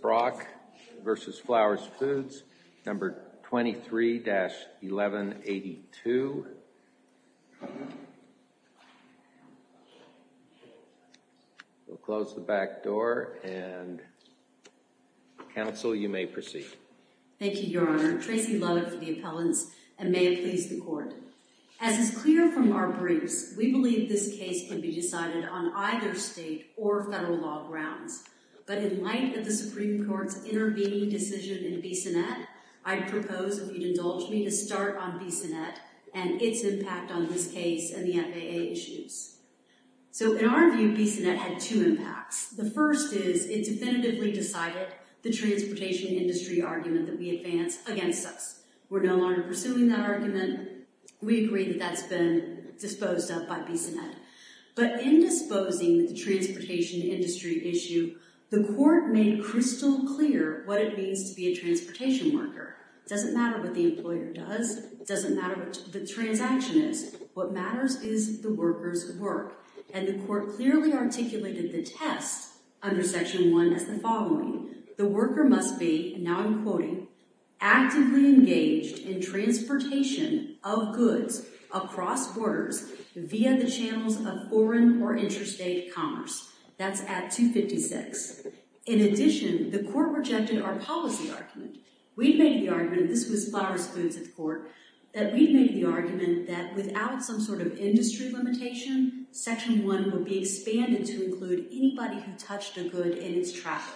Brock v. Flowers Foods No. 23-1182 We'll close the back door and counsel, you may proceed. Thank you, Your Honor. Tracy Lovett for the appellants, and may it please the Court. As is clear from our briefs, we believe this case can be decided on either state or federal law grounds, but in light of the Supreme Court's intervening decision in Bissonnette, I propose that you indulge me to start on Bissonnette and its impact on this case and the FAA issues. So in our view, Bissonnette had two impacts. The first is it definitively decided the transportation industry argument that we advance against us. We're no longer pursuing that argument. We agree that that's been disposed of by Bissonnette. But in disposing the transportation industry issue, the Court made crystal clear what it means to be a transportation worker. It doesn't matter what the employer does. It doesn't matter what the transaction is. What matters is the worker's work, and the Court clearly articulated the test under Section 1 as the following. The worker must be, and now I'm quoting, actively engaged in transportation of goods across borders via the channels of foreign or interstate commerce. That's at 256. In addition, the Court rejected our policy argument. We made the argument, and this was flower spoons at the Court, that we made the argument that without some sort of industry limitation, Section 1 would be expanded to include anybody who touched a good in its travel,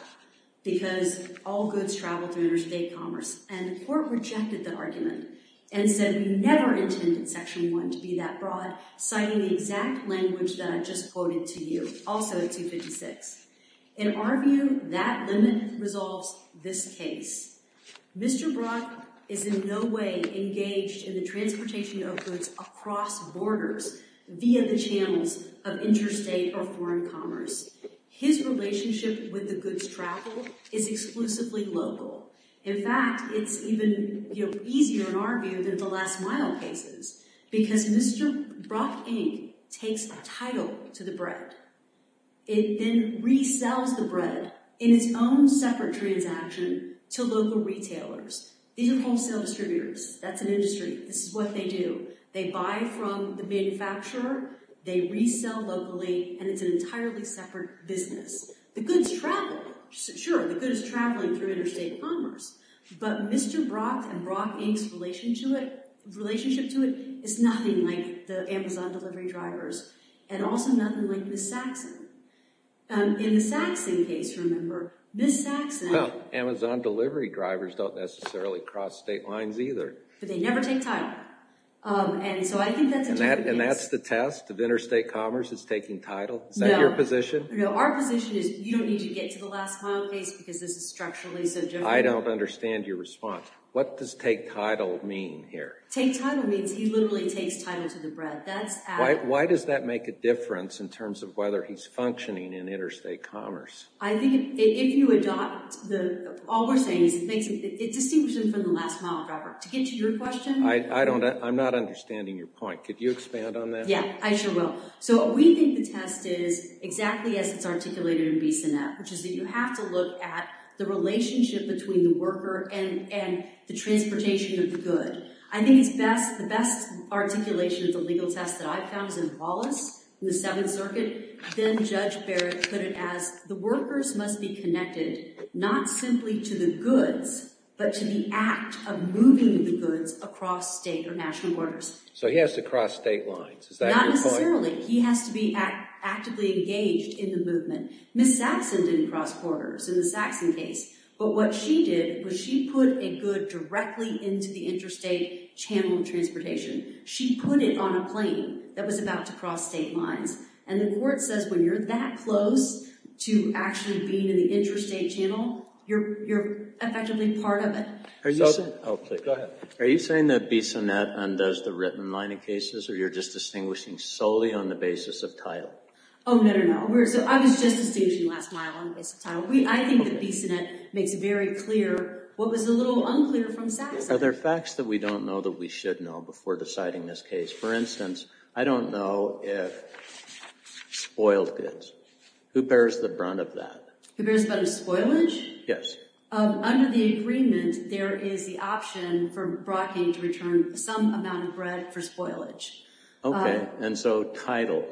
because all goods travel through interstate commerce. And the Court rejected the argument and said we never intended Section 1 to be that broad, citing the exact language that I just quoted to you, also at 256. In our view, that limit resolves this case. Mr. Brock is in no way engaged in the transportation of goods across borders via the channels of interstate or foreign commerce. His relationship with the goods travel is exclusively local. In fact, it's even easier in our view than the Last Mile cases, because Mr. Brock, Inc. takes the title to the bread. It then resells the bread in its own separate transaction to local retailers. These are wholesale distributors. That's an industry. This is what they do. They buy from the manufacturer, they resell locally, and it's an entirely separate business. The goods travel. Sure, the goods travel through interstate commerce. But Mr. Brock and Brock, Inc.'s relationship to it is nothing like the Amazon delivery drivers, and also nothing like Ms. Saxon. In the Saxon case, remember, Ms. Saxon— Well, Amazon delivery drivers don't necessarily cross state lines either. But they never take title. And so I think that's a different case. And that's the test of interstate commerce is taking title? Is that your position? No, our position is you don't need to get to the Last Mile case because this is structurally so different. I don't understand your response. What does take title mean here? Take title means he literally takes title to the bread. That's added. Why does that make a difference in terms of whether he's functioning in interstate commerce? I think if you adopt—all we're saying is it distinguishes him from the Last Mile driver. To get to your question— I'm not understanding your point. Could you expand on that? Yeah, I sure will. So we think the test is exactly as it's articulated in BCNF, which is that you have to look at the relationship between the worker and the transportation of the good. I think the best articulation of the legal test that I've found is in Wallace in the Seventh Circuit. Then Judge Barrett put it as the workers must be connected not simply to the goods, but to the act of moving the goods across state or national borders. So he has to cross state lines. Is that your point? Not necessarily. He has to be actively engaged in the movement. Ms. Saxon didn't cross borders in the Saxon case. But what she did was she put a good directly into the interstate channel of transportation. She put it on a plane that was about to cross state lines. And the court says when you're that close to actually being in the interstate channel, you're effectively part of it. Are you saying that BCNF undoes the written line of cases, or you're just distinguishing solely on the basis of title? Oh, no, no, no. I was just distinguishing Last Mile on the basis of title. I think that BCNF makes very clear what was a little unclear from Saxon. Are there facts that we don't know that we should know before deciding this case? For instance, I don't know if spoiled goods. Who bears the brunt of that? Who bears the brunt of spoilage? Yes. Under the agreement, there is the option for Brocking to return some amount of bread for spoilage. Okay. And so title?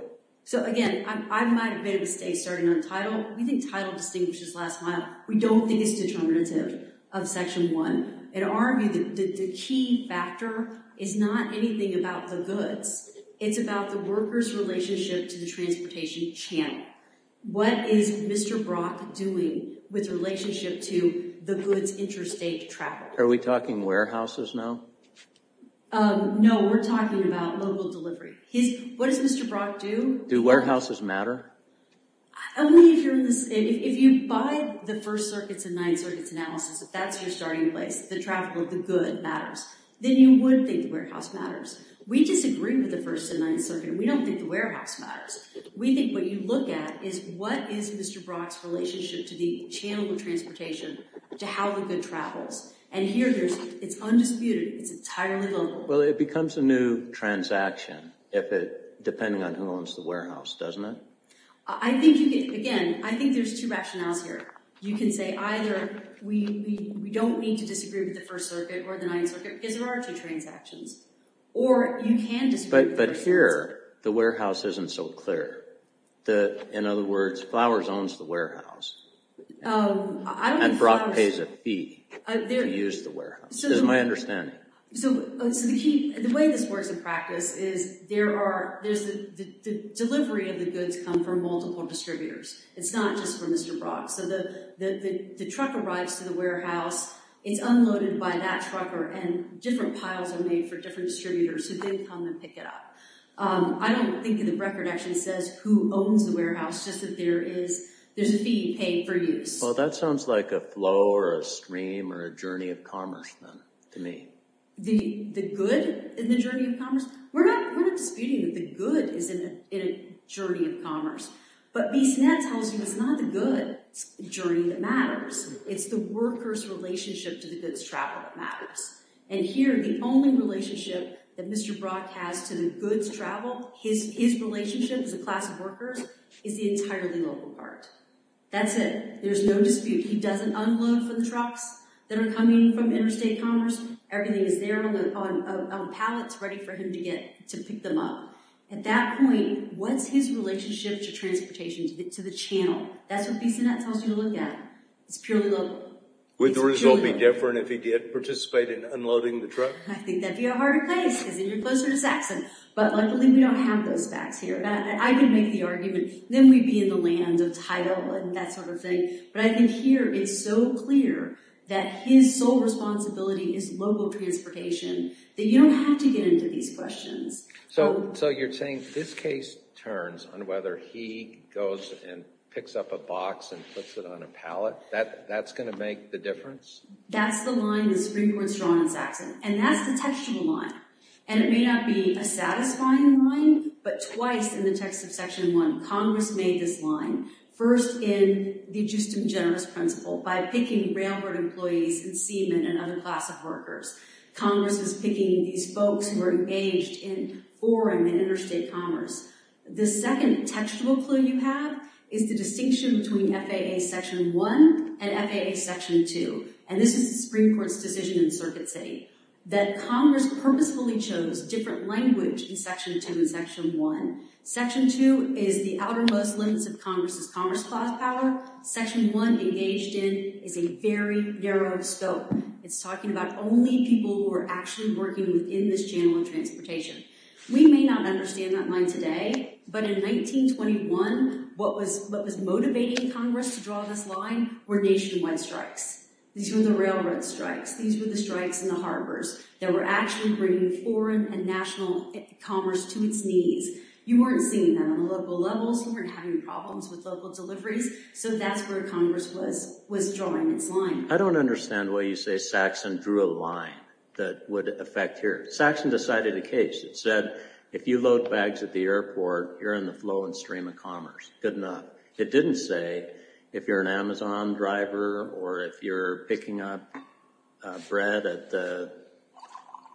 So, again, I might have made a mistake starting on title. We think title distinguishes Last Mile. We don't think it's determinative of Section 1. In our view, the key factor is not anything about the goods. It's about the worker's relationship to the transportation channel. What is Mr. Brock doing with relationship to the goods interstate travel? Are we talking warehouses now? No, we're talking about local delivery. What does Mr. Brock do? Do warehouses matter? If you buy the First Circuit's and Ninth Circuit's analysis, if that's your starting place, the traffic of the good matters, then you would think the warehouse matters. We disagree with the First and Ninth Circuit. We don't think the warehouse matters. We think what you look at is what is Mr. Brock's relationship to the channel of transportation, to how the good travels. And here, it's undisputed. It's entirely local. Well, it becomes a new transaction depending on who owns the warehouse, doesn't it? Again, I think there's two rationales here. You can say either we don't need to disagree with the First Circuit or the Ninth Circuit because there are two transactions. Or you can disagree with the First Circuit. But here, the warehouse isn't so clear. In other words, Flowers owns the warehouse. And Brock pays a fee to use the warehouse, is my understanding. So the way this works in practice is the delivery of the goods come from multiple distributors. It's not just from Mr. Brock. So the truck arrives to the warehouse. It's unloaded by that trucker, and different piles are made for different distributors who then come and pick it up. I don't think the record actually says who owns the warehouse, just that there's a fee paid for use. Well, that sounds like a flow or a stream or a journey of commerce, then, to me. The good in the journey of commerce? We're not disputing that the good is in a journey of commerce. But BSNET tells you it's not the goods journey that matters. It's the worker's relationship to the goods travel that matters. And here, the only relationship that Mr. Brock has to the goods travel, his relationship as a class of workers, is the entirely local part. That's it. There's no dispute. He doesn't unload for the trucks that are coming from interstate commerce. Everything is there on pallets ready for him to get to pick them up. At that point, what's his relationship to transportation, to the channel? That's what BSNET tells you to look at. It's purely local. Would the result be different if he did participate in unloading the truck? I think that'd be a harder place because then you're closer to Saxon. But luckily, we don't have those facts here. I can make the argument. Then we'd be in the land of title and that sort of thing. But I think here, it's so clear that his sole responsibility is local transportation that you don't have to get into these questions. So you're saying this case turns on whether he goes and picks up a box and puts it on a pallet? That's going to make the difference? That's the line the Supreme Court's drawn on Saxon. And that's the textual line. And it may not be a satisfying line, but twice in the text of Section 1, Congress made this line. First, in the Justum Generis Principle, by picking railroad employees and seamen and other class of workers. Congress is picking these folks who are engaged in foreign and interstate commerce. The second textual clue you have is the distinction between FAA Section 1 and FAA Section 2. And this is the Supreme Court's decision in Circuit City. That Congress purposefully chose different language in Section 2 and Section 1. Section 2 is the outermost limits of Congress's commerce class power. Section 1, engaged in, is a very narrow scope. It's talking about only people who are actually working within this channel of transportation. We may not understand that line today, but in 1921, what was motivating Congress to draw this line were nationwide strikes. These were the railroad strikes. These were the strikes in the harbors that were actually bringing foreign and national commerce to its knees. You weren't seeing that on the local levels. You weren't having problems with local deliveries. So that's where Congress was drawing its line. I don't understand why you say Saxon drew a line that would affect here. Saxon decided a case. It said, if you load bags at the airport, you're in the flow and stream of commerce. Good enough. It didn't say, if you're an Amazon driver or if you're picking up bread at the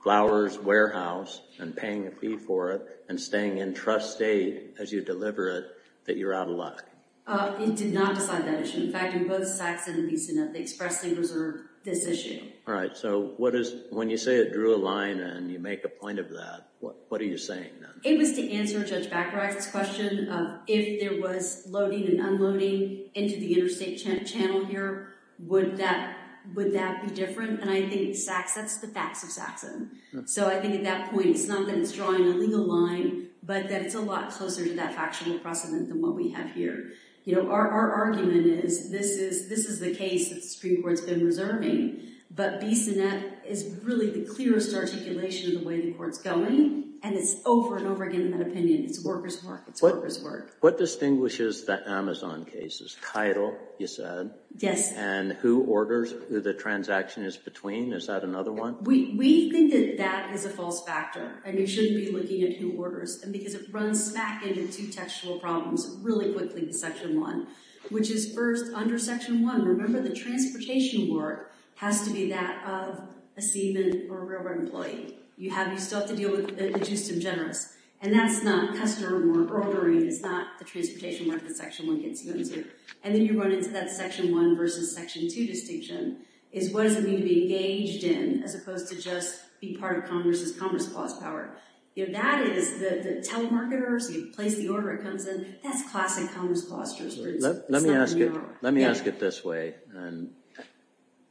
flowers warehouse and paying a fee for it and staying in trust state as you deliver it, that you're out of luck. It did not decide that issue. In fact, in both Saxon and Beeson, they expressly reserve this issue. All right. So when you say it drew a line and you make a point of that, what are you saying then? It was to answer Judge Bacharach's question. If there was loading and unloading into the interstate channel here, would that be different? And I think that's the facts of Saxon. So I think at that point, it's not that it's drawing a legal line, but that it's a lot closer to that factual precedent than what we have here. Our argument is this is the case that the Supreme Court's been reserving. But Beeson, that is really the clearest articulation of the way the court's going. And it's over and over again in that opinion. It's worker's work. It's worker's work. What distinguishes the Amazon cases? Title, you said. Yes. And who orders, who the transaction is between? Is that another one? We think that that is a false factor. And you shouldn't be looking at who orders. And because it runs smack into two textual problems really quickly in Section 1, which is first, under Section 1, remember the transportation work has to be that of a seaman or a railroad employee. You still have to deal with the adjustive generous. And that's not customer or ordering. It's not the transportation work that Section 1 gets you into. And then you run into that Section 1 versus Section 2 distinction is what does it mean to be engaged in as opposed to just be part of Congress's commerce clause power? That is the telemarketers, you place the order, it comes in. That's classic commerce clause jurisprudence. Let me ask it this way.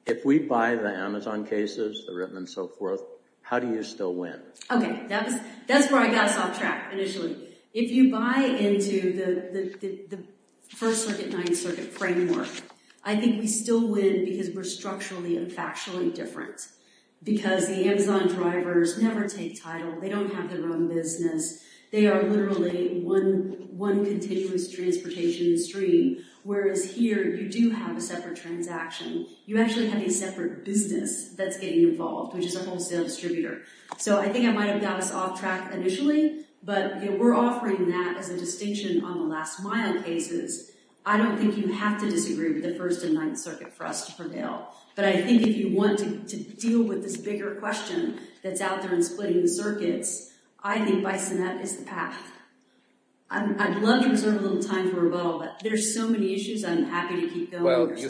If we buy the Amazon cases, the RIPMA and so forth, how do you still win? Okay, that's where I got us off track initially. If you buy into the First Circuit, Ninth Circuit framework, I think we still win because we're structurally and factually different. Because the Amazon drivers never take title. They don't have their own business. They are literally one continuous transportation stream, whereas here you do have a separate transaction. You actually have a separate business that's getting involved, which is a wholesale distributor. So I think I might have got us off track initially, but we're offering that as a distinction on the last mile cases. I don't think you have to disagree with the First and Ninth Circuit for us to prevail. But I think if you want to deal with this bigger question that's out there in splitting the circuits, I think BISONET is the path. I'd love to reserve a little time for a bubble, but there's so many issues I'm happy to keep going. Well, you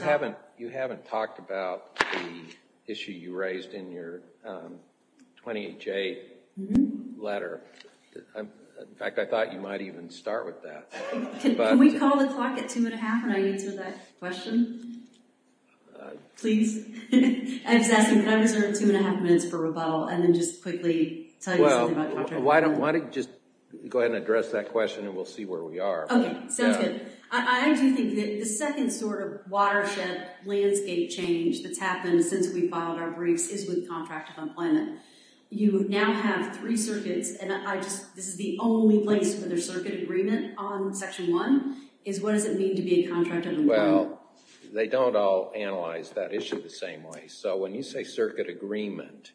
haven't talked about the issue you raised in your 28J letter. In fact, I thought you might even start with that. Can we call the clock at two and a half when I answer that question? Please. I'm just asking, can I reserve two and a half minutes for rebuttal and then just quickly tell you something about contracting? Why don't you just go ahead and address that question, and we'll see where we are. Okay, sounds good. I do think that the second sort of watershed landscape change that's happened since we filed our briefs is with contract of employment. You now have three circuits, and this is the only place where there's circuit agreement on Section 1. What does it mean to be a contract of employment? Well, they don't all analyze that issue the same way. So when you say circuit agreement,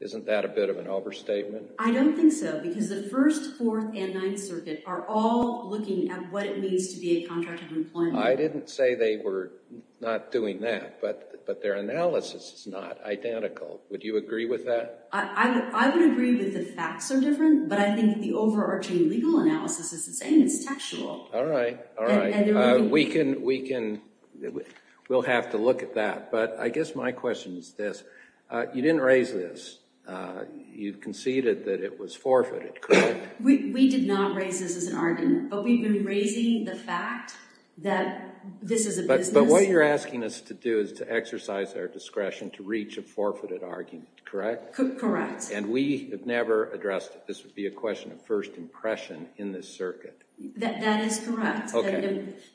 isn't that a bit of an overstatement? I don't think so, because the First, Fourth, and Ninth Circuit are all looking at what it means to be a contract of employment. I didn't say they were not doing that, but their analysis is not identical. Would you agree with that? I would agree that the facts are different, but I think the overarching legal analysis is the same. It's textual. All right, all right. We'll have to look at that. But I guess my question is this. You didn't raise this. You conceded that it was forfeited, correct? We did not raise this as an argument, but we've been raising the fact that this is a business. But what you're asking us to do is to exercise our discretion to reach a forfeited argument, correct? Correct. And we have never addressed that this would be a question of first impression in this circuit. That is correct.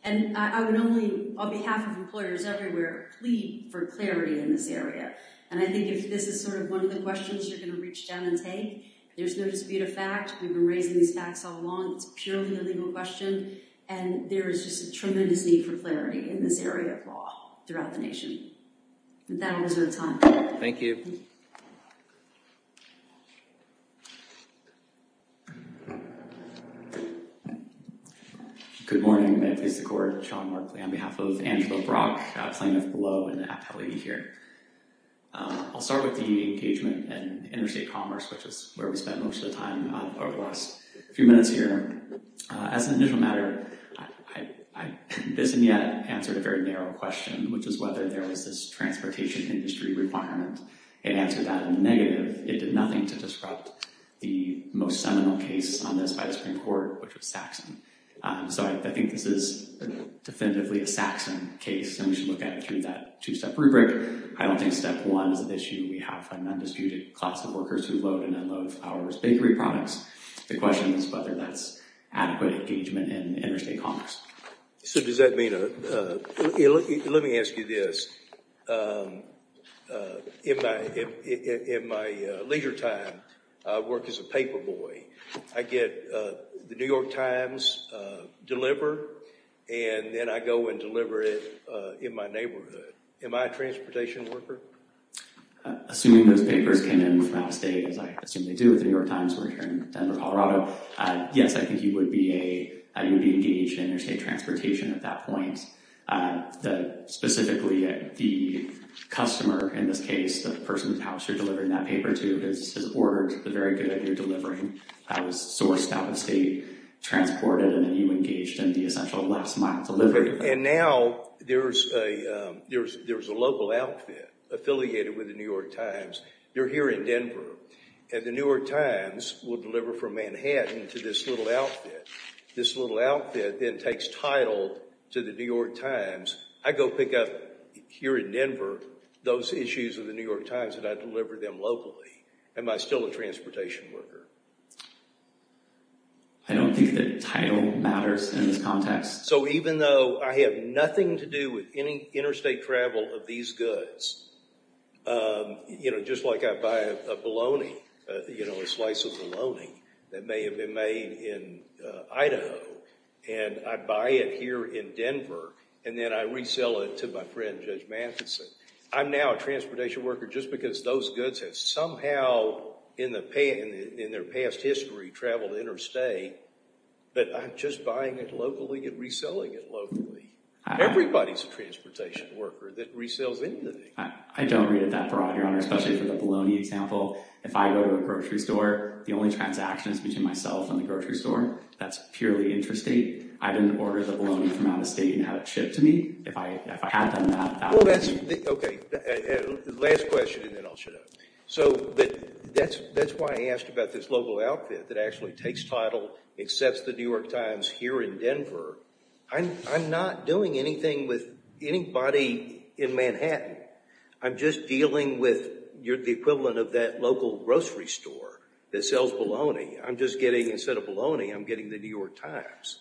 And I would only, on behalf of employers everywhere, plead for clarity in this area. And I think this is sort of one of the questions you're going to reach down and take. There's no dispute of fact. We've been raising these facts all along. It's purely a legal question. And there is just a tremendous need for clarity in this area of law throughout the nation. That was our time. Thank you. Good morning. May it please the Court. Sean Markley on behalf of Andrew O'Brock, plaintiff below, and the appellee here. I'll start with the engagement in interstate commerce, which is where we spent most of the time over the last few minutes here. As an initial matter, I haven't yet answered a very narrow question, which is whether there was this transportation industry requirement. It answered that in the negative. It did nothing to disrupt the most seminal case on this by the Supreme Court, which was Saxon. So I think this is definitively a Saxon case, and we should look at it through that two-step rubric. I don't think step one is an issue. We have an undisputed class of workers who load and unload our bakery products. The question is whether that's adequate engagement in interstate commerce. So does that mean a – let me ask you this. In my leisure time, I work as a paperboy. I get the New York Times delivered, and then I go and deliver it in my neighborhood. Am I a transportation worker? Assuming those papers came in from out of state, as I assume they do with the New York Times, we're here in Denver, Colorado, yes, I think you would be engaged in interstate transportation at that point. Specifically, the customer in this case, the person whose house you're delivering that paper to, has ordered the very good that you're delivering, was sourced out of state, transported, and then you engaged in the essential last-mile delivery. And now there's a local outfit affiliated with the New York Times. You're here in Denver, and the New York Times will deliver from Manhattan to this little outfit. This little outfit then takes title to the New York Times. I go pick up here in Denver those issues of the New York Times, and I deliver them locally. Am I still a transportation worker? I don't think that title matters in this context. So even though I have nothing to do with any interstate travel of these goods, just like I buy a bologna, a slice of bologna that may have been made in Idaho, and I buy it here in Denver, and then I resell it to my friend, Judge Matheson. I'm now a transportation worker just because those goods have somehow in their past history traveled interstate, but I'm just buying it locally and reselling it locally. Everybody's a transportation worker that resells anything. I don't read it that broad, Your Honor, especially for the bologna example. If I go to a grocery store, the only transaction is between myself and the grocery store. That's purely interstate. I didn't order the bologna from out of state and have it shipped to me. If I had done that, that would be— Okay, last question, and then I'll shut up. So that's why I asked about this local outfit that actually takes title, accepts the New York Times here in Denver. I'm not doing anything with anybody in Manhattan. I'm just dealing with the equivalent of that local grocery store that sells bologna. I'm just getting—instead of bologna, I'm getting the New York Times.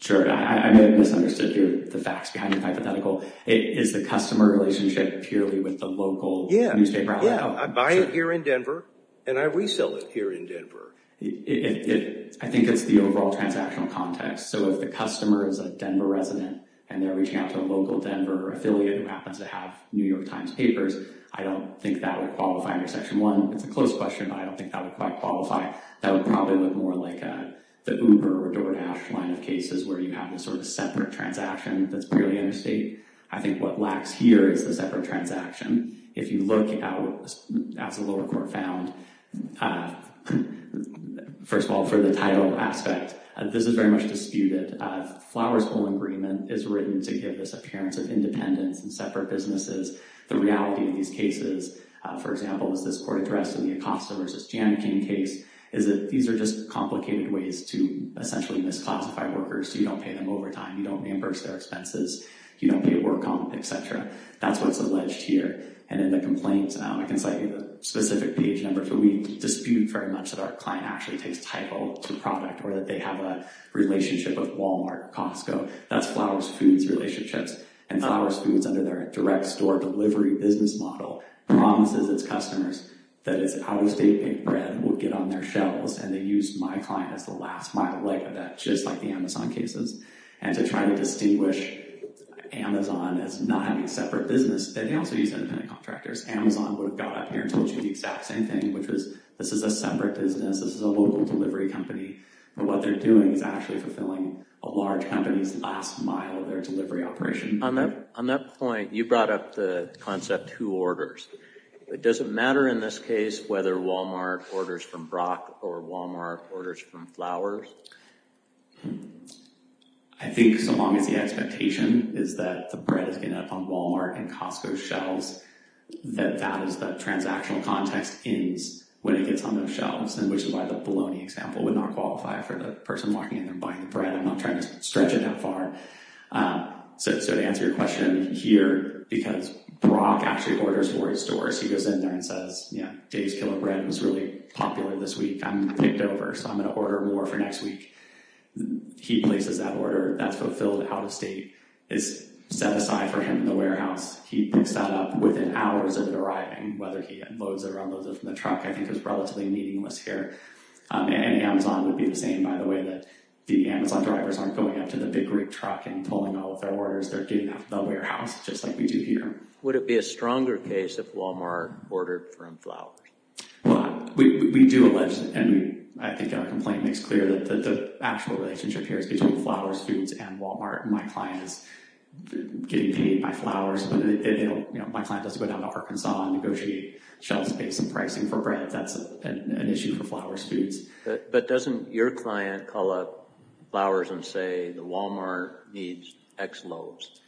Sure. I may have misunderstood the facts behind the hypothetical. Is the customer relationship purely with the local newspaper outlet? Yeah. I buy it here in Denver, and I resell it here in Denver. I think it's the overall transactional context. So if the customer is a Denver resident, and they're reaching out to a local Denver affiliate who happens to have New York Times papers, I don't think that would qualify under Section 1. It's a close question, but I don't think that would quite qualify. That would probably look more like the Uber or DoorDash line of cases where you have this sort of separate transaction that's purely interstate. I think what lacks here is the separate transaction. If you look at what the lower court found, first of all, for the title aspect, this is very much disputed. Flowers Hole Agreement is written to give this appearance of independence and separate businesses. The reality of these cases, for example, is this court address in the Acosta v. Janikin case, is that these are just complicated ways to essentially misclassify workers, so you don't pay them overtime, you don't reimburse their expenses, you don't pay work comp, et cetera. That's what's alleged here. And in the complaints now, I can cite specific page numbers, but we dispute very much that our client actually takes title to product or that they have a relationship with Walmart, Costco. That's Flowers Foods relationships. And Flowers Foods, under their direct store delivery business model, promises its customers that its out-of-state baked bread will get on their shelves, and they use my client as the last mile leg of that, just like the Amazon cases. And to try to distinguish Amazon as not having a separate business, they also use independent contractors. Amazon would have got up here and told you the exact same thing, which was this is a separate business, this is a local delivery company, but what they're doing is actually fulfilling a large company's last mile of their delivery operation. On that point, you brought up the concept who orders. Does it matter in this case whether Walmart orders from Brock or Walmart orders from Flowers? I think so long as the expectation is that the bread is going to end up on Walmart and Costco's shelves, that that is the transactional context is when it gets on their shelves, and which is why the bologna example would not qualify for the person walking in and buying the bread and not trying to stretch it that far. So to answer your question here, because Brock actually orders for his stores, he goes in there and says, yeah, Dave's Killer Bread was really popular this week. I'm picked over, so I'm going to order more for next week. He places that order, that's fulfilled out-of-state. It's set aside for him in the warehouse. He picks that up within hours of it arriving, whether he loads it or unloads it from the truck, I think is relatively meaningless here. And Amazon would be the same, by the way, that the Amazon drivers aren't going up to the big rig truck and pulling all of their orders. They're getting out of the warehouse, just like we do here. Would it be a stronger case if Walmart ordered from Flowers? Well, we do allege, and I think our complaint makes clear, that the actual relationship here is between Flowers Foods and Walmart. My client is getting paid by Flowers, but my client doesn't go down to Arkansas and negotiate shelf space and pricing for bread. That's an issue for Flowers Foods. But doesn't your client call up Flowers and say, the Walmart needs X loads?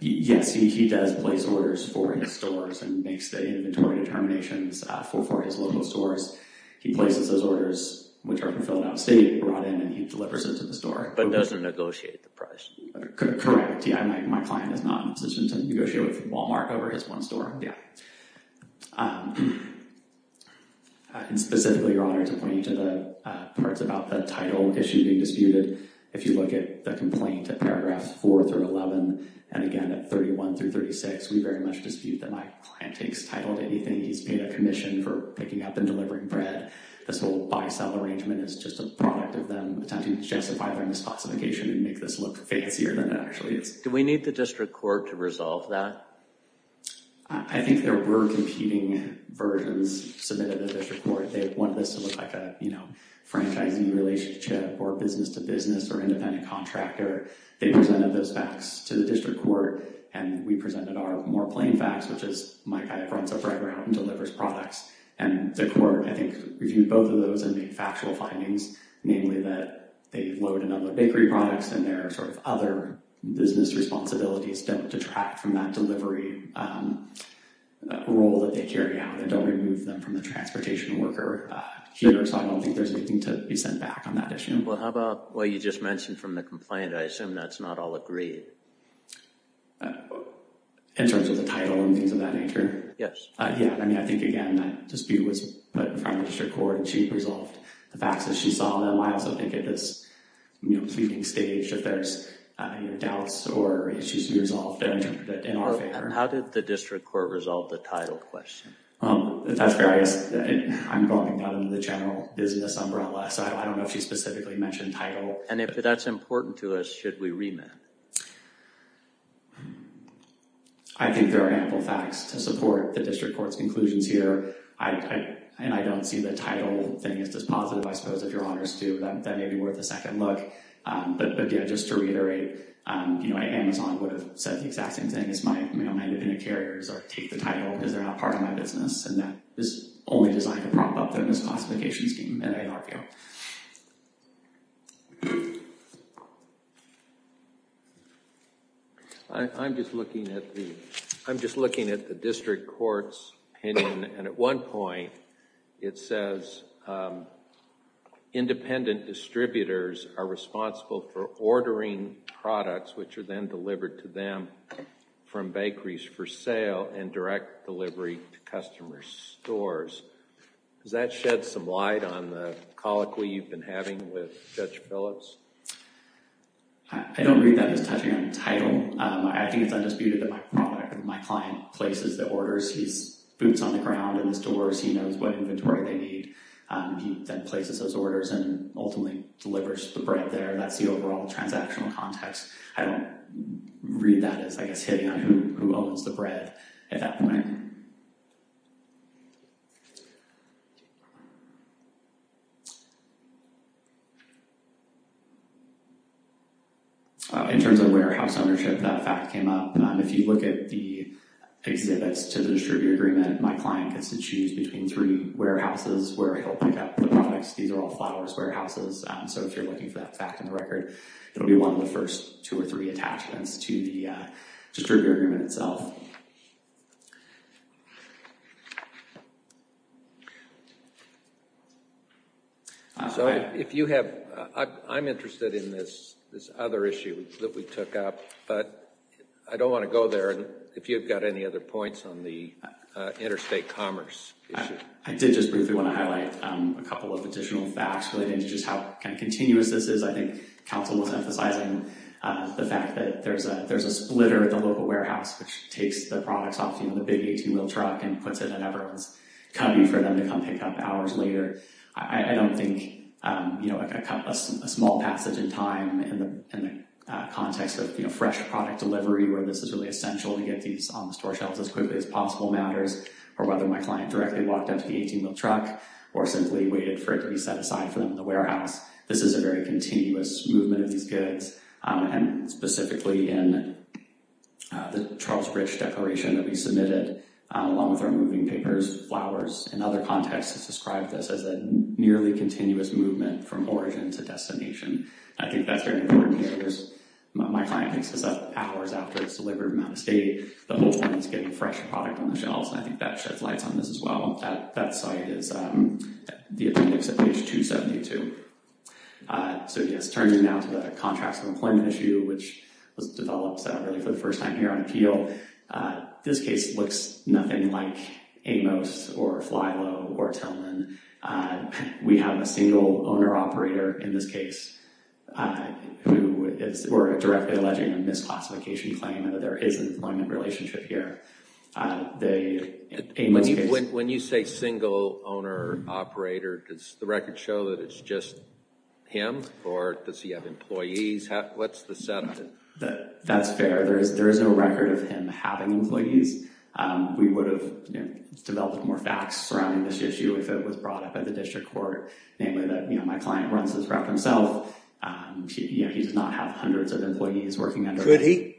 Yes, he does place orders for his stores and makes the inventory determinations for his local stores. He places those orders, which are fulfilled out-of-state, brought in, and he delivers it to the store. But doesn't negotiate the price. Correct. My client is not in a position to negotiate with Walmart over his one store. Specifically, Your Honor, to point you to the parts about the title issue being disputed, if you look at the complaint at paragraph 4 through 11, and again at 31 through 36, we very much dispute that my client takes title to anything. He's paid a commission for picking up and delivering bread. This whole buy-sell arrangement is just a product of them attempting to justify their misclassification and make this look fancier than it actually is. Do we need the district court to resolve that? I think there were competing versions submitted to the district court. They wanted this to look like a franchising relationship or business-to-business or independent contractor. They presented those facts to the district court, and we presented our more plain facts, which is my client runs a bread route and delivers products. And the court, I think, reviewed both of those and made factual findings, namely that they load another bakery products, and their sort of other business responsibilities don't detract from that delivery role that they carry out. They don't remove them from the transportation worker here, so I don't think there's anything to be sent back on that issue. Well, how about what you just mentioned from the complaint? I assume that's not all agreed. In terms of the title and things of that nature? Yes. Yeah, I mean, I think, again, that dispute was put in front of the district court, and she resolved the facts as she saw them. I also think at this, you know, pleading stage, if there's any doubts or issues to be resolved, then interpret it in our favor. And how did the district court resolve the title question? That's fair. I'm going down into the general business umbrella, so I don't know if she specifically mentioned title. And if that's important to us, should we remit? I think there are ample facts to support the district court's conclusions here, and I don't see the title thing as just positive. I suppose if Your Honors do, that may be worth a second look. But, yeah, just to reiterate, you know, Amazon would have said the exact same thing as my independent carriers or take the title because they're not part of my business, and that is only designed to prop up the misclassification scheme at ARPO. I'm just looking at the district court's opinion, and at one point it says independent distributors are responsible for ordering products which are then delivered to them from bakeries for sale and direct delivery to customer stores. Does that shed some light on the colloquy you've been having with Judge Phillips? I don't read that as touching on the title. I think it's undisputed that my client places the orders. He boots on the ground in his doors. He knows what inventory they need. He then places those orders and ultimately delivers the bread there. That's the overall transactional context. I don't read that as, I guess, hitting on who owns the bread at that point. In terms of warehouse ownership, that fact came up. If you look at the exhibits to the distributor agreement, my client gets to choose between three warehouses where he'll pick up the products. These are all flowers warehouses, so if you're looking for that fact in the record, it'll be one of the first two or three attachments to the distributor agreement itself. I'm interested in this other issue that we took up, but I don't want to go there. If you've got any other points on the interstate commerce issue. I did just briefly want to highlight a couple of additional facts relating to just how continuous this is. I think counsel was emphasizing the fact that there's a splitter at the local warehouse which takes the products off the big 18-wheel truck and puts it at everyone's cubby for them to come pick up hours later. I don't think a small passage in time in the context of fresh product delivery where this is really essential to get these on the store shelves as quickly as possible matters or whether my client directly walked up to the 18-wheel truck or simply waited for it to be set aside for them in the warehouse. This is a very continuous movement of these goods, and specifically in the Charles Bridge declaration that we submitted along with our moving papers, flowers, and other contexts that describe this as a nearly continuous movement from origin to destination. I think that's very important here. My client picks this up hours after it's delivered from out of state. The whole point is getting fresh product on the shelves, and I think that sheds lights on this as well. That site is the appendix at page 272. Turning now to the contracts and employment issue which was developed for the first time here on appeal. This case looks nothing like Amos or Fly Low or Tillman. We have a single owner-operator in this case who is directly alleging a misclassification claim and that there is an employment relationship here. When you say single owner-operator, does the record show that it's just him, or does he have employees? What's the setup? That's fair. There is no record of him having employees. We would have developed more facts surrounding this issue if it was brought up at the district court, namely that my client runs this route himself. He does not have hundreds of employees working under him.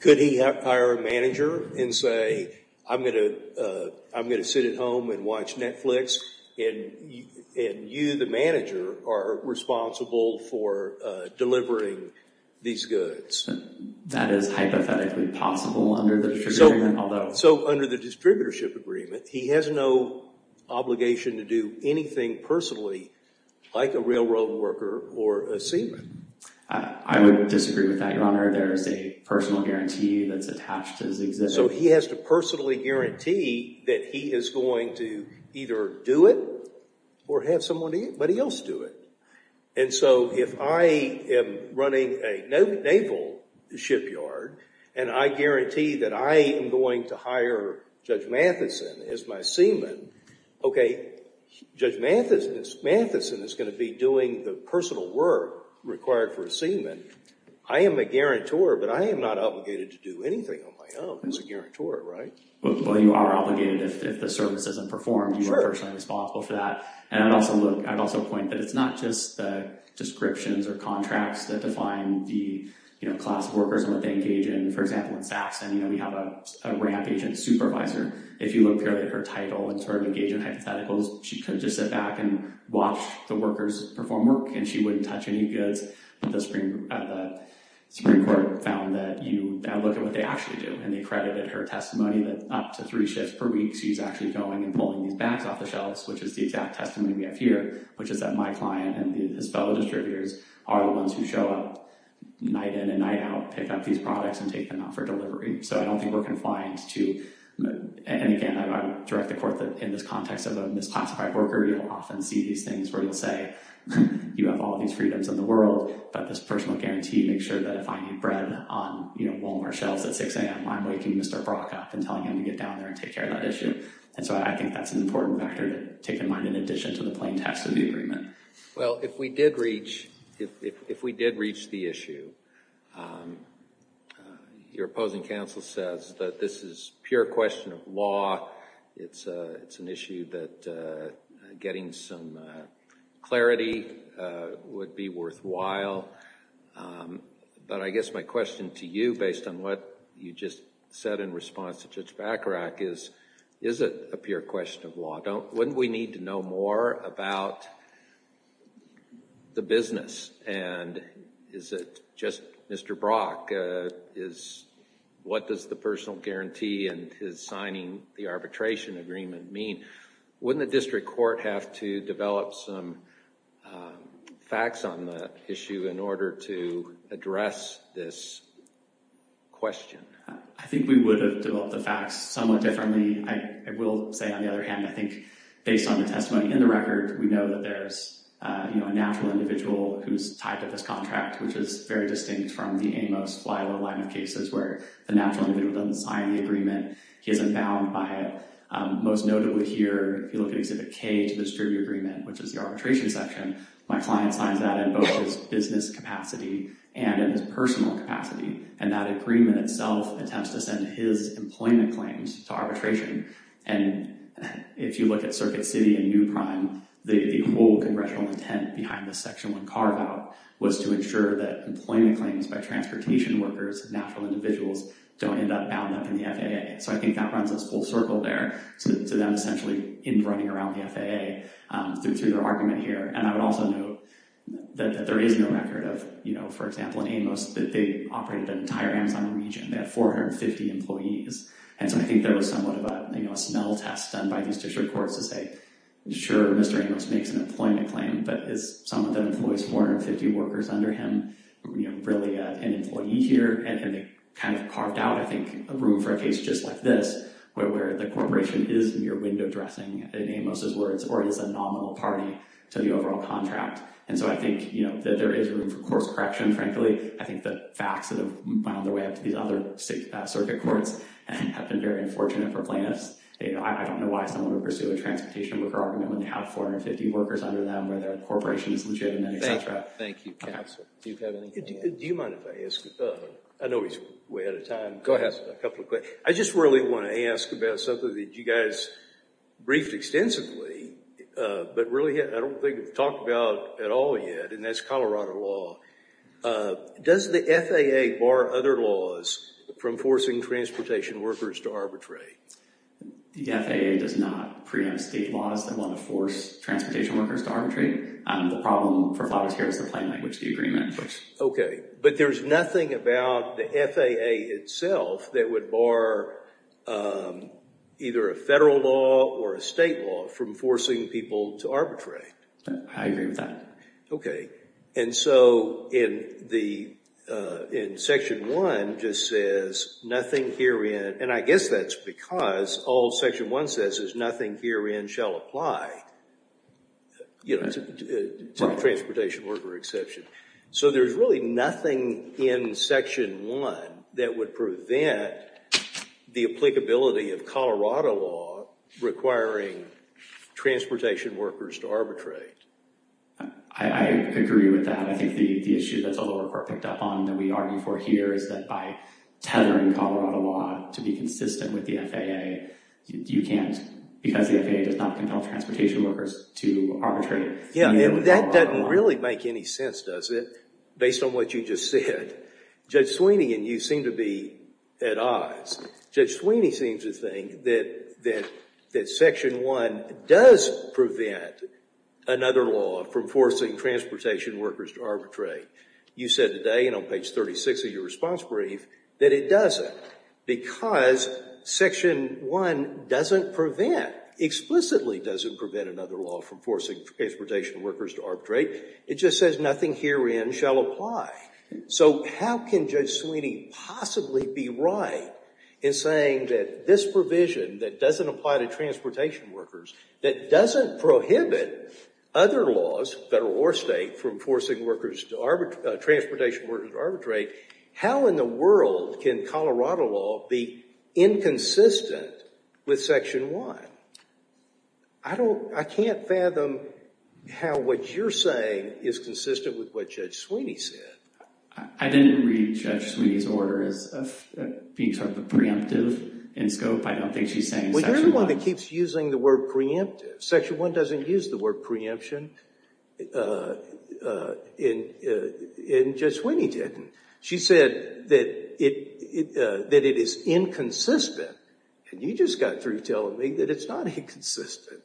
Could he hire a manager and say, I'm going to sit at home and watch Netflix, and you, the manager, are responsible for delivering these goods? That is hypothetically possible under the distributorship. He has no obligation to do anything personally like a railroad worker or a seaman. I would disagree with that, Your Honor. There is a personal guarantee that's attached to his existence. So he has to personally guarantee that he is going to either do it or have somebody else do it. And so if I am running a naval shipyard and I guarantee that I am going to hire Judge Matheson as my seaman, okay, Judge Matheson is going to be doing the personal work required for a seaman. I am a guarantor, but I am not obligated to do anything on my own as a guarantor, right? Well, you are obligated if the service isn't performed. You are personally responsible for that. And I'd also point that it's not just the descriptions or contracts that define the class of workers and what they engage in. For example, in Saxton, we have a ramp agent supervisor. If you look at her title and sort of engage in hypotheticals, she could just sit back and watch the workers perform work and she wouldn't touch any goods. But the Supreme Court found that you look at what they actually do, and they credited her testimony that up to three shifts per week, she's actually going and pulling these bags off the shelves, which is the exact testimony we have here, which is that my client and his fellow distributors are the ones who show up night in and night out, pick up these products and take them out for delivery. So I don't think we're confined to, and again, I direct the court that in this context of a misclassified worker, you'll often see these things where you'll say you have all these freedoms in the world, but this personal guarantee makes sure that if I need bread on Walmart shelves at 6 a.m., I'm waking Mr. Brock up and telling him to get down there and take care of that issue. And so I think that's an important factor to take in mind in addition to the plain text of the agreement. Well, if we did reach the issue, your opposing counsel says that this is pure question of law. It's an issue that getting some clarity would be worthwhile. But I guess my question to you, based on what you just said in response to Judge Bacharach, is, is it a pure question of law? Wouldn't we need to know more about the business? And is it just Mr. Brock? What does the personal guarantee and his signing the arbitration agreement mean? Wouldn't the district court have to develop some facts on the issue in order to address this question? I think we would have developed the facts somewhat differently. I will say, on the other hand, I think based on the testimony in the record, we know that there's a natural individual who's tied to this contract, which is very distinct from the Amos-Flywell line of cases where the natural individual doesn't sign the agreement. He isn't bound by it. Most notably here, if you look at Exhibit K to the distribute agreement, which is the arbitration section, my client signs that in both his business capacity and in his personal capacity. And that agreement itself attempts to send his employment claims to arbitration. And if you look at Circuit City and New Prime, the whole congressional intent behind the Section 1 carve-out was to ensure that employment claims by transportation workers, natural individuals, don't end up bound up in the FAA. So I think that runs this full circle there, to them essentially running around the FAA through their argument here. And I would also note that there is no record of, you know, for example, in Amos that they operated an entire Amazon region. They had 450 employees. And so I think there was somewhat of a, you know, a smell test done by these district courts to say, sure, Mr. Amos makes an employment claim, but is someone that employs 450 workers under him, you know, really an employee here? And they kind of carved out, I think, a room for a case just like this, where the corporation is mere window dressing, in Amos' words, or is a nominal party to the overall contract. And so I think, you know, that there is room for course correction, frankly. I think the facts that have found their way up to these other circuit courts have been very unfortunate for plaintiffs. I don't know why someone would pursue a transportation worker argument when they have 450 workers under them, where their corporation is legitimate, et cetera. Thank you, counsel. Do you have anything to add? Do you mind if I ask? I know we're way out of time. Go ahead. I just really want to ask about something that you guys briefed extensively, but really I don't think it's talked about at all yet, and that's Colorado law. Does the FAA bar other laws from forcing transportation workers to arbitrate? The FAA does not preempt state laws that want to force transportation workers to arbitrate. The problem for Flavio's here is the plain language agreement. Okay. But there's nothing about the FAA itself that would bar either a federal law or a state law from forcing people to arbitrate. I agree with that. And so in Section 1 just says nothing herein, and I guess that's because all Section 1 says is nothing herein shall apply to the transportation worker exception. So there's really nothing in Section 1 that would prevent the applicability of Colorado law requiring transportation workers to arbitrate. I agree with that. I think the issue that's a little more picked up on than we argue for here is that by tethering Colorado law to be consistent with the FAA, you can't, because the FAA does not compel transportation workers to arbitrate. Yeah, and that doesn't really make any sense, does it, based on what you just said? Judge Sweeney, and you seem to be at odds, Judge Sweeney seems to think that Section 1 does prevent another law from forcing transportation workers to arbitrate. You said today, and on page 36 of your response brief, that it doesn't, because Section 1 doesn't prevent, that explicitly doesn't prevent another law from forcing transportation workers to arbitrate. It just says nothing herein shall apply. So how can Judge Sweeney possibly be right in saying that this provision that doesn't apply to transportation workers, that doesn't prohibit other laws, federal or state, from forcing transportation workers to arbitrate, how in the world can Colorado law be inconsistent with Section 1? I can't fathom how what you're saying is consistent with what Judge Sweeney said. I didn't read Judge Sweeney's order as being sort of preemptive in scope. I don't think she's saying Section 1. Well, you're the one that keeps using the word preemptive. Section 1 doesn't use the word preemption, and Judge Sweeney didn't. She said that it is inconsistent, and you just got through telling me that it's not inconsistent.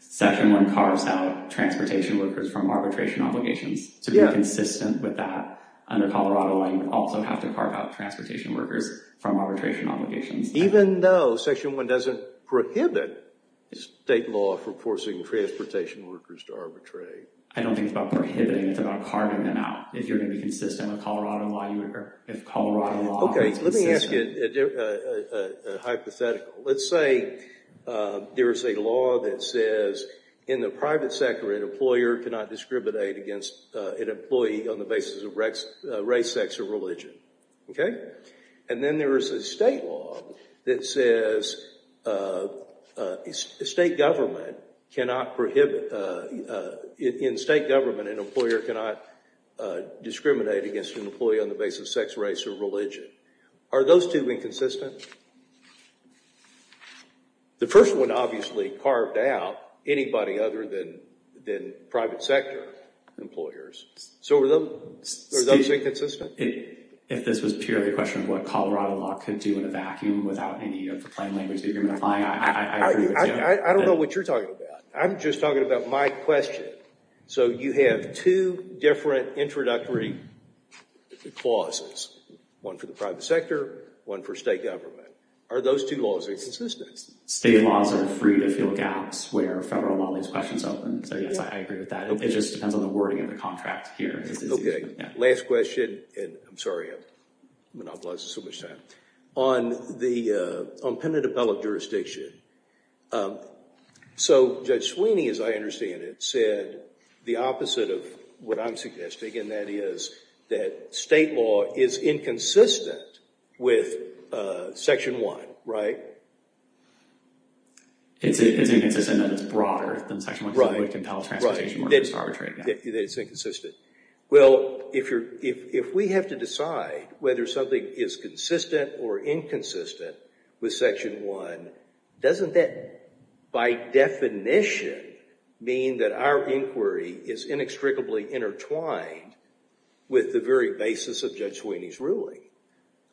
Section 1 carves out transportation workers from arbitration obligations. To be consistent with that under Colorado law, you also have to carve out transportation workers from arbitration obligations. Even though Section 1 doesn't prohibit state law for forcing transportation workers to arbitrate. I don't think it's about prohibiting. It's about carving them out. If you're going to be consistent with Colorado law, you occur. Okay, let me ask you a hypothetical. Let's say there is a law that says in the private sector an employer cannot discriminate against an employee on the basis of race, sex, or religion. Okay? And then there is a state law that says in state government an employer cannot discriminate against an employee on the basis of sex, race, or religion. Are those two inconsistent? The first one obviously carved out anybody other than private sector employers. So are those inconsistent? If this was purely a question of what Colorado law could do in a vacuum without any of the plain language agreement applying, I agree with you. I don't know what you're talking about. I'm just talking about my question. So you have two different introductory clauses. One for the private sector, one for state government. Are those two laws inconsistent? State laws are free to fill gaps where federal law leaves questions open. So yes, I agree with that. It just depends on the wording of the contract here. Okay. Last question. I'm sorry I'm monopolizing so much time. On the impendent appellate jurisdiction. So Judge Sweeney, as I understand it, said the opposite of what I'm suggesting, and that is that state law is inconsistent with Section 1, right? It's inconsistent in that it's broader than Section 1. Right. That it's inconsistent. Well, if we have to decide whether something is consistent or inconsistent with Section 1, doesn't that by definition mean that our inquiry is inextricably intertwined with the very basis of Judge Sweeney's ruling?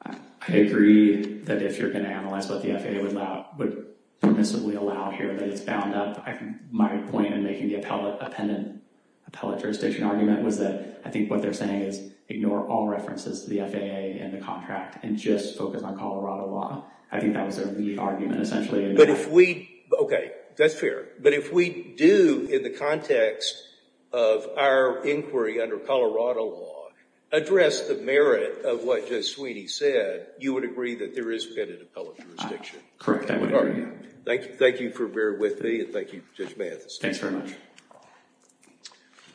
I agree that if you're going to analyze what the FAA would permissibly allow here that it's bound up. My point in making the appellate jurisdiction argument was that I think what they're saying is ignore all references to the FAA and the contract and just focus on Colorado law. I think that was their lead argument essentially. Okay. That's fair. But if we do, in the context of our inquiry under Colorado law, address the merit of what Judge Sweeney said, you would agree that there is pendent appellate jurisdiction. Correct. Thank you for being with me and thank you, Judge Mathis. Thanks very much.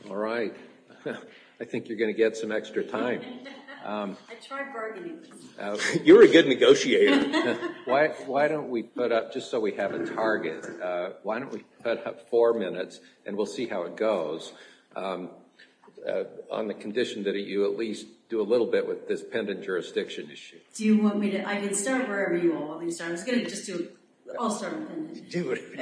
All right. I think you're going to get some extra time. I tried bargaining this. You're a good negotiator. Why don't we put up, just so we have a target, why don't we put up four minutes and we'll see how it goes on the condition that you at least do a little bit with this pendent jurisdiction issue. I can start wherever you all want me to start. I was going to just do it. I'll start on pendent. Do it.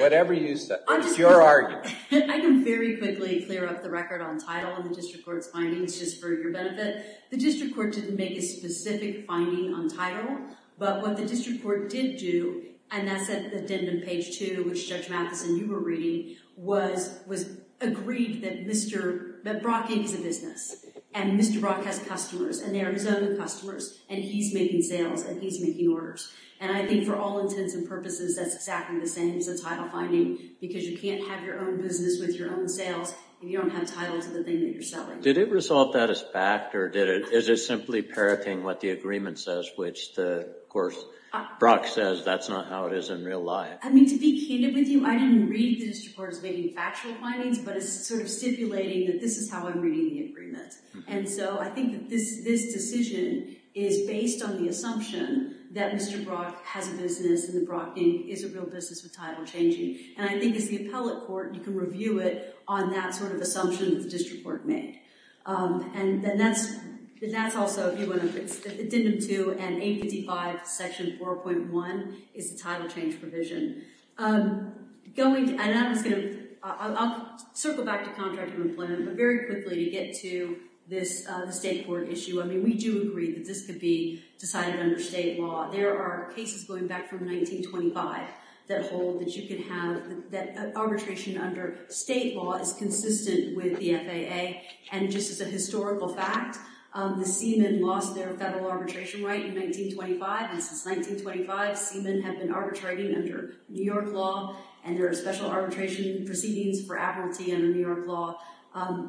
Whatever you say. It's your argument. I can very quickly clear up the record on title and the district court's findings just for your benefit. The district court didn't make a specific finding on title, but what the district court did do, and that's at the end of page two, which Judge Mathis and you were reading, was agreed that Brock is a business and Mr. Brock has customers and they are his own customers and he's making sales and he's making orders. And I think for all intents and purposes, that's exactly the same as a title finding because you can't have your own business with your own sales if you don't have title to the thing that you're selling. Did it resolve that as fact or is it simply parroting what the agreement says, which, of course, Brock says that's not how it is in real life. I mean, to be candid with you, I didn't read the district court's factual findings, but it's sort of stipulating that this is how I'm reading the agreement. And so I think that this decision is based on the assumption that Mr. Brock has a business and that Brock is a real business with title changing. And I think as the appellate court, you can review it on that sort of assumption that the district court made. And that's also, if you want to, it's Addendum 2 and ABD 5, Section 4.1, is the title change provision. I'll circle back to contracting employment, but very quickly to get to the state court issue. I mean, we do agree that this could be decided under state law. There are cases going back from 1925 that hold that arbitration under state law is consistent with the FAA. And just as a historical fact, the Seamen lost their federal arbitration right in 1925, and since 1925, Seamen have been arbitrating under New York law. And there are special arbitration proceedings for appellatee under New York law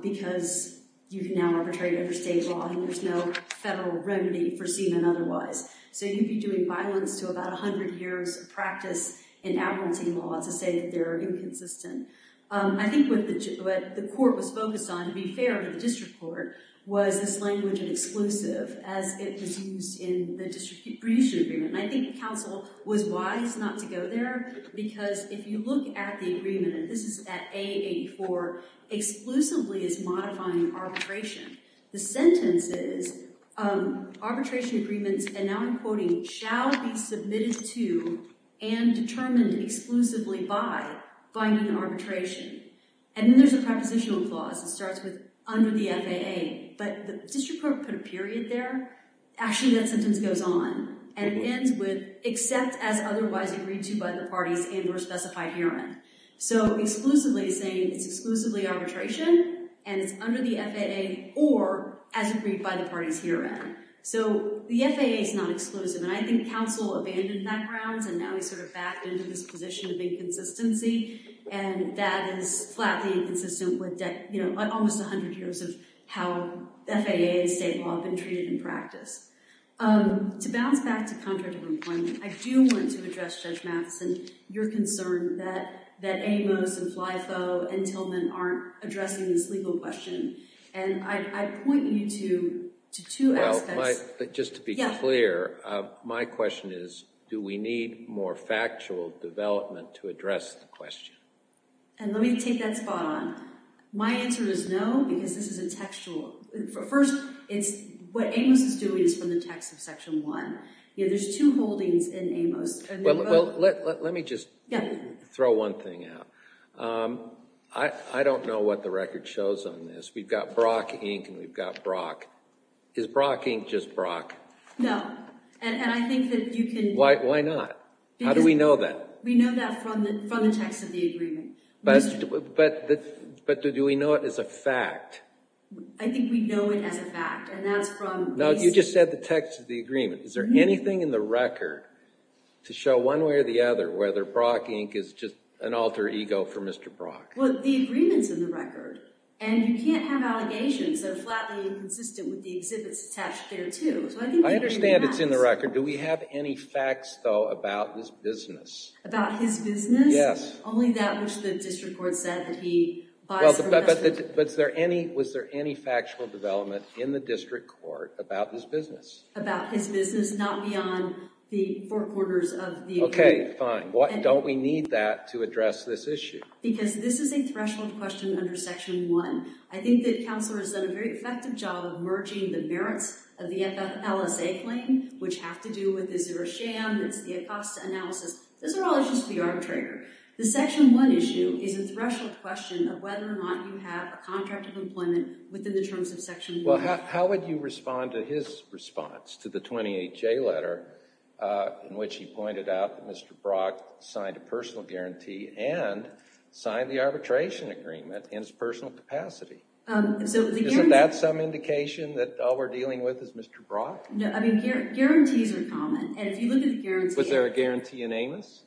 because you can now arbitrate under state law and there's no federal remedy for Seamen otherwise. So you'd be doing violence to about 100 years of practice in appellatee law to say that they're inconsistent. I think what the court was focused on, to be fair to the district court, was this language of exclusive as it was used in the redistribution agreement. And I think the council was wise not to go there because if you look at the agreement, and this is at A84, exclusively it's modifying arbitration. The sentence is, arbitration agreements, and now I'm quoting, shall be submitted to and determined exclusively by binding arbitration. And then there's a prepositional clause that starts with under the FAA, but the district court put a period there. Actually, that sentence goes on and it ends with except as otherwise agreed to by the parties and or specified herein. So exclusively saying it's exclusively arbitration and it's under the FAA or as agreed by the parties herein. So the FAA is not exclusive, and I think the council abandoned that grounds and now he's sort of backed into this position of inconsistency, and that is flatly inconsistent with almost 100 years of how FAA and state law have been treated in practice. To bounce back to contractual employment, I do want to address, Judge Matheson, your concern that Amos and Flyfo and Tillman aren't addressing this legal question. And I point you to two aspects. Just to be clear, my question is, do we need more factual development to address the question? And let me take that spot on. My answer is no, because this is a textual. First, what Amos is doing is from the text of Section 1. There's two holdings in Amos. Let me just throw one thing out. I don't know what the record shows on this. We've got Brock Inc. and we've got Brock. Is Brock Inc. just Brock? No, and I think that you can— Why not? How do we know that? We know that from the text of the agreement. But do we know it as a fact? I think we know it as a fact, and that's from— No, you just said the text of the agreement. Is there anything in the record to show one way or the other whether Brock Inc. is just an alter ego for Mr. Brock? Well, the agreement's in the record, and you can't have allegations that are flatly inconsistent with the exhibits attached there, too. I understand it's in the record. Do we have any facts, though, about his business? About his business? Yes. Only that which the district court said that he— But was there any factual development in the district court about his business? About his business, not beyond the four quarters of the agreement. Okay, fine. Don't we need that to address this issue? Because this is a threshold question under Section 1. I think that counsel has done a very effective job of merging the merits of the FFLSA claim, which have to do with the zero sham, it's the Acosta analysis. Those are all issues for the arbitrator. The Section 1 issue is a threshold question of whether or not you have a contract of employment within the terms of Section 1. Well, how would you respond to his response to the 28J letter in which he pointed out that Mr. Brock signed a personal guarantee and signed the arbitration agreement in his personal capacity? Isn't that some indication that all we're dealing with is Mr. Brock? No, I mean, guarantees are common. And if you look at the guarantee— Was there a guarantee in Amos?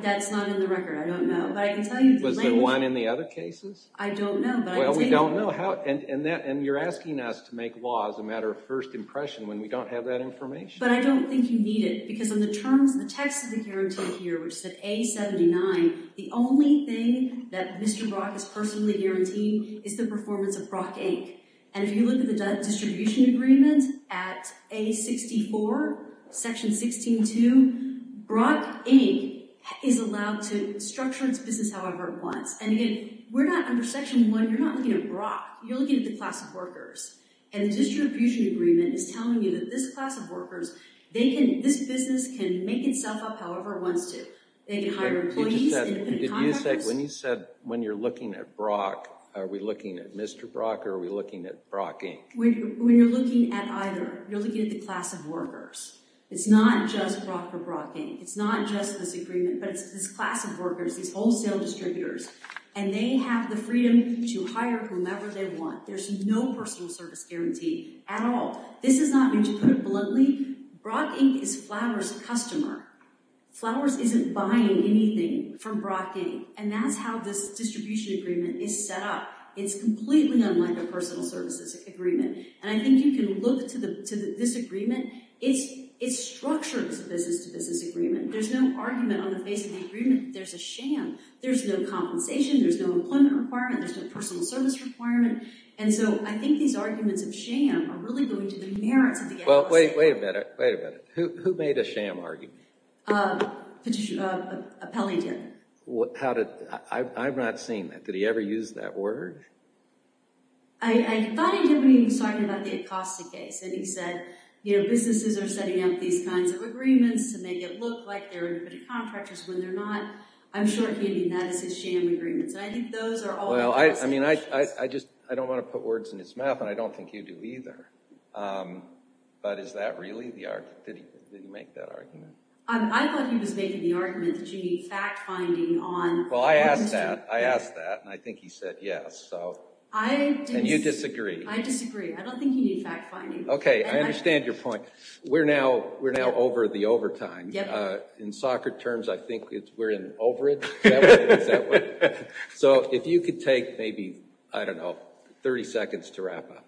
That's not in the record. I don't know. But I can tell you— Was there one in the other cases? I don't know. Well, we don't know. And you're asking us to make laws a matter of first impression when we don't have that information. But I don't think you need it. Because on the terms, the text of the guarantee here, which is at A79, the only thing that Mr. Brock is personally guaranteeing is the performance of Brock, Inc. And if you look at the distribution agreement at A64, Section 16.2, Brock, Inc. is allowed to structure its business however it wants. And, again, we're not under Section 1. You're not looking at Brock. You're looking at the class of workers. And the distribution agreement is telling you that this class of workers, this business can make itself up however it wants to. They can hire employees. When you said, when you're looking at Brock, are we looking at Mr. Brock or are we looking at Brock, Inc.? When you're looking at either, you're looking at the class of workers. It's not just Brock or Brock, Inc. It's not just this agreement, but it's this class of workers, these wholesale distributors. And they have the freedom to hire whomever they want. There's no personal service guarantee at all. This is not me to put it bluntly. Brock, Inc. is Flowers' customer. Flowers isn't buying anything from Brock, Inc. And that's how this distribution agreement is set up. It's completely unlike a personal services agreement. And I think you can look to this agreement. It's structured as a business-to-business agreement. There's no argument on the face of the agreement that there's a sham. There's no compensation. There's no employment requirement. There's no personal service requirement. And so I think these arguments of sham are really going to the merits of the Acosta case. Well, wait a minute. Wait a minute. Who made a sham argument? Pellington. How did? I've not seen that. Did he ever use that word? I thought he did when he was talking about the Acosta case. And he said, you know, businesses are setting up these kinds of agreements to make it look like they're contributing to contractors when they're not. I'm sure he didn't mean that as his sham agreements. And I think those are all Acosta cases. Well, I mean, I just don't want to put words in his mouth, and I don't think you do either. But is that really the argument? Did he make that argument? I thought he was making the argument that you need fact-finding on. Well, I asked that. I asked that, and I think he said yes. And you disagree. I disagree. I don't think you need fact-finding. Okay. I understand your point. We're now over the overtime. In soccer terms, I think we're in overage. Is that right? Is that right? So if you could take maybe, I don't know, 30 seconds to wrap up.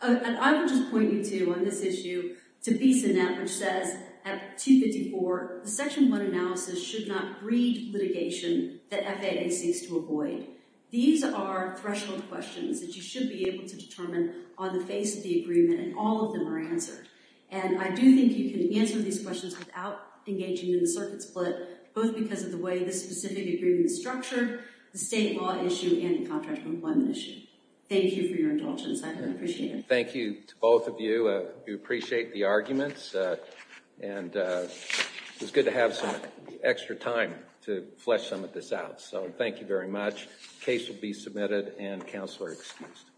I would just point you to, on this issue, to VisaNet, which says at 254, the Section 1 analysis should not read litigation that FAA seeks to avoid. These are threshold questions that you should be able to determine on the face of the agreement, and all of them are answered. And I do think you can answer these questions without engaging in a circuit split, both because of the way this specific agreement is structured, the state law issue, and the contractual employment issue. Thank you for your indulgence. I really appreciate it. Thank you to both of you. We appreciate the arguments, and it was good to have some extra time to flesh some of this out. So thank you very much. The case will be submitted and counselor excused.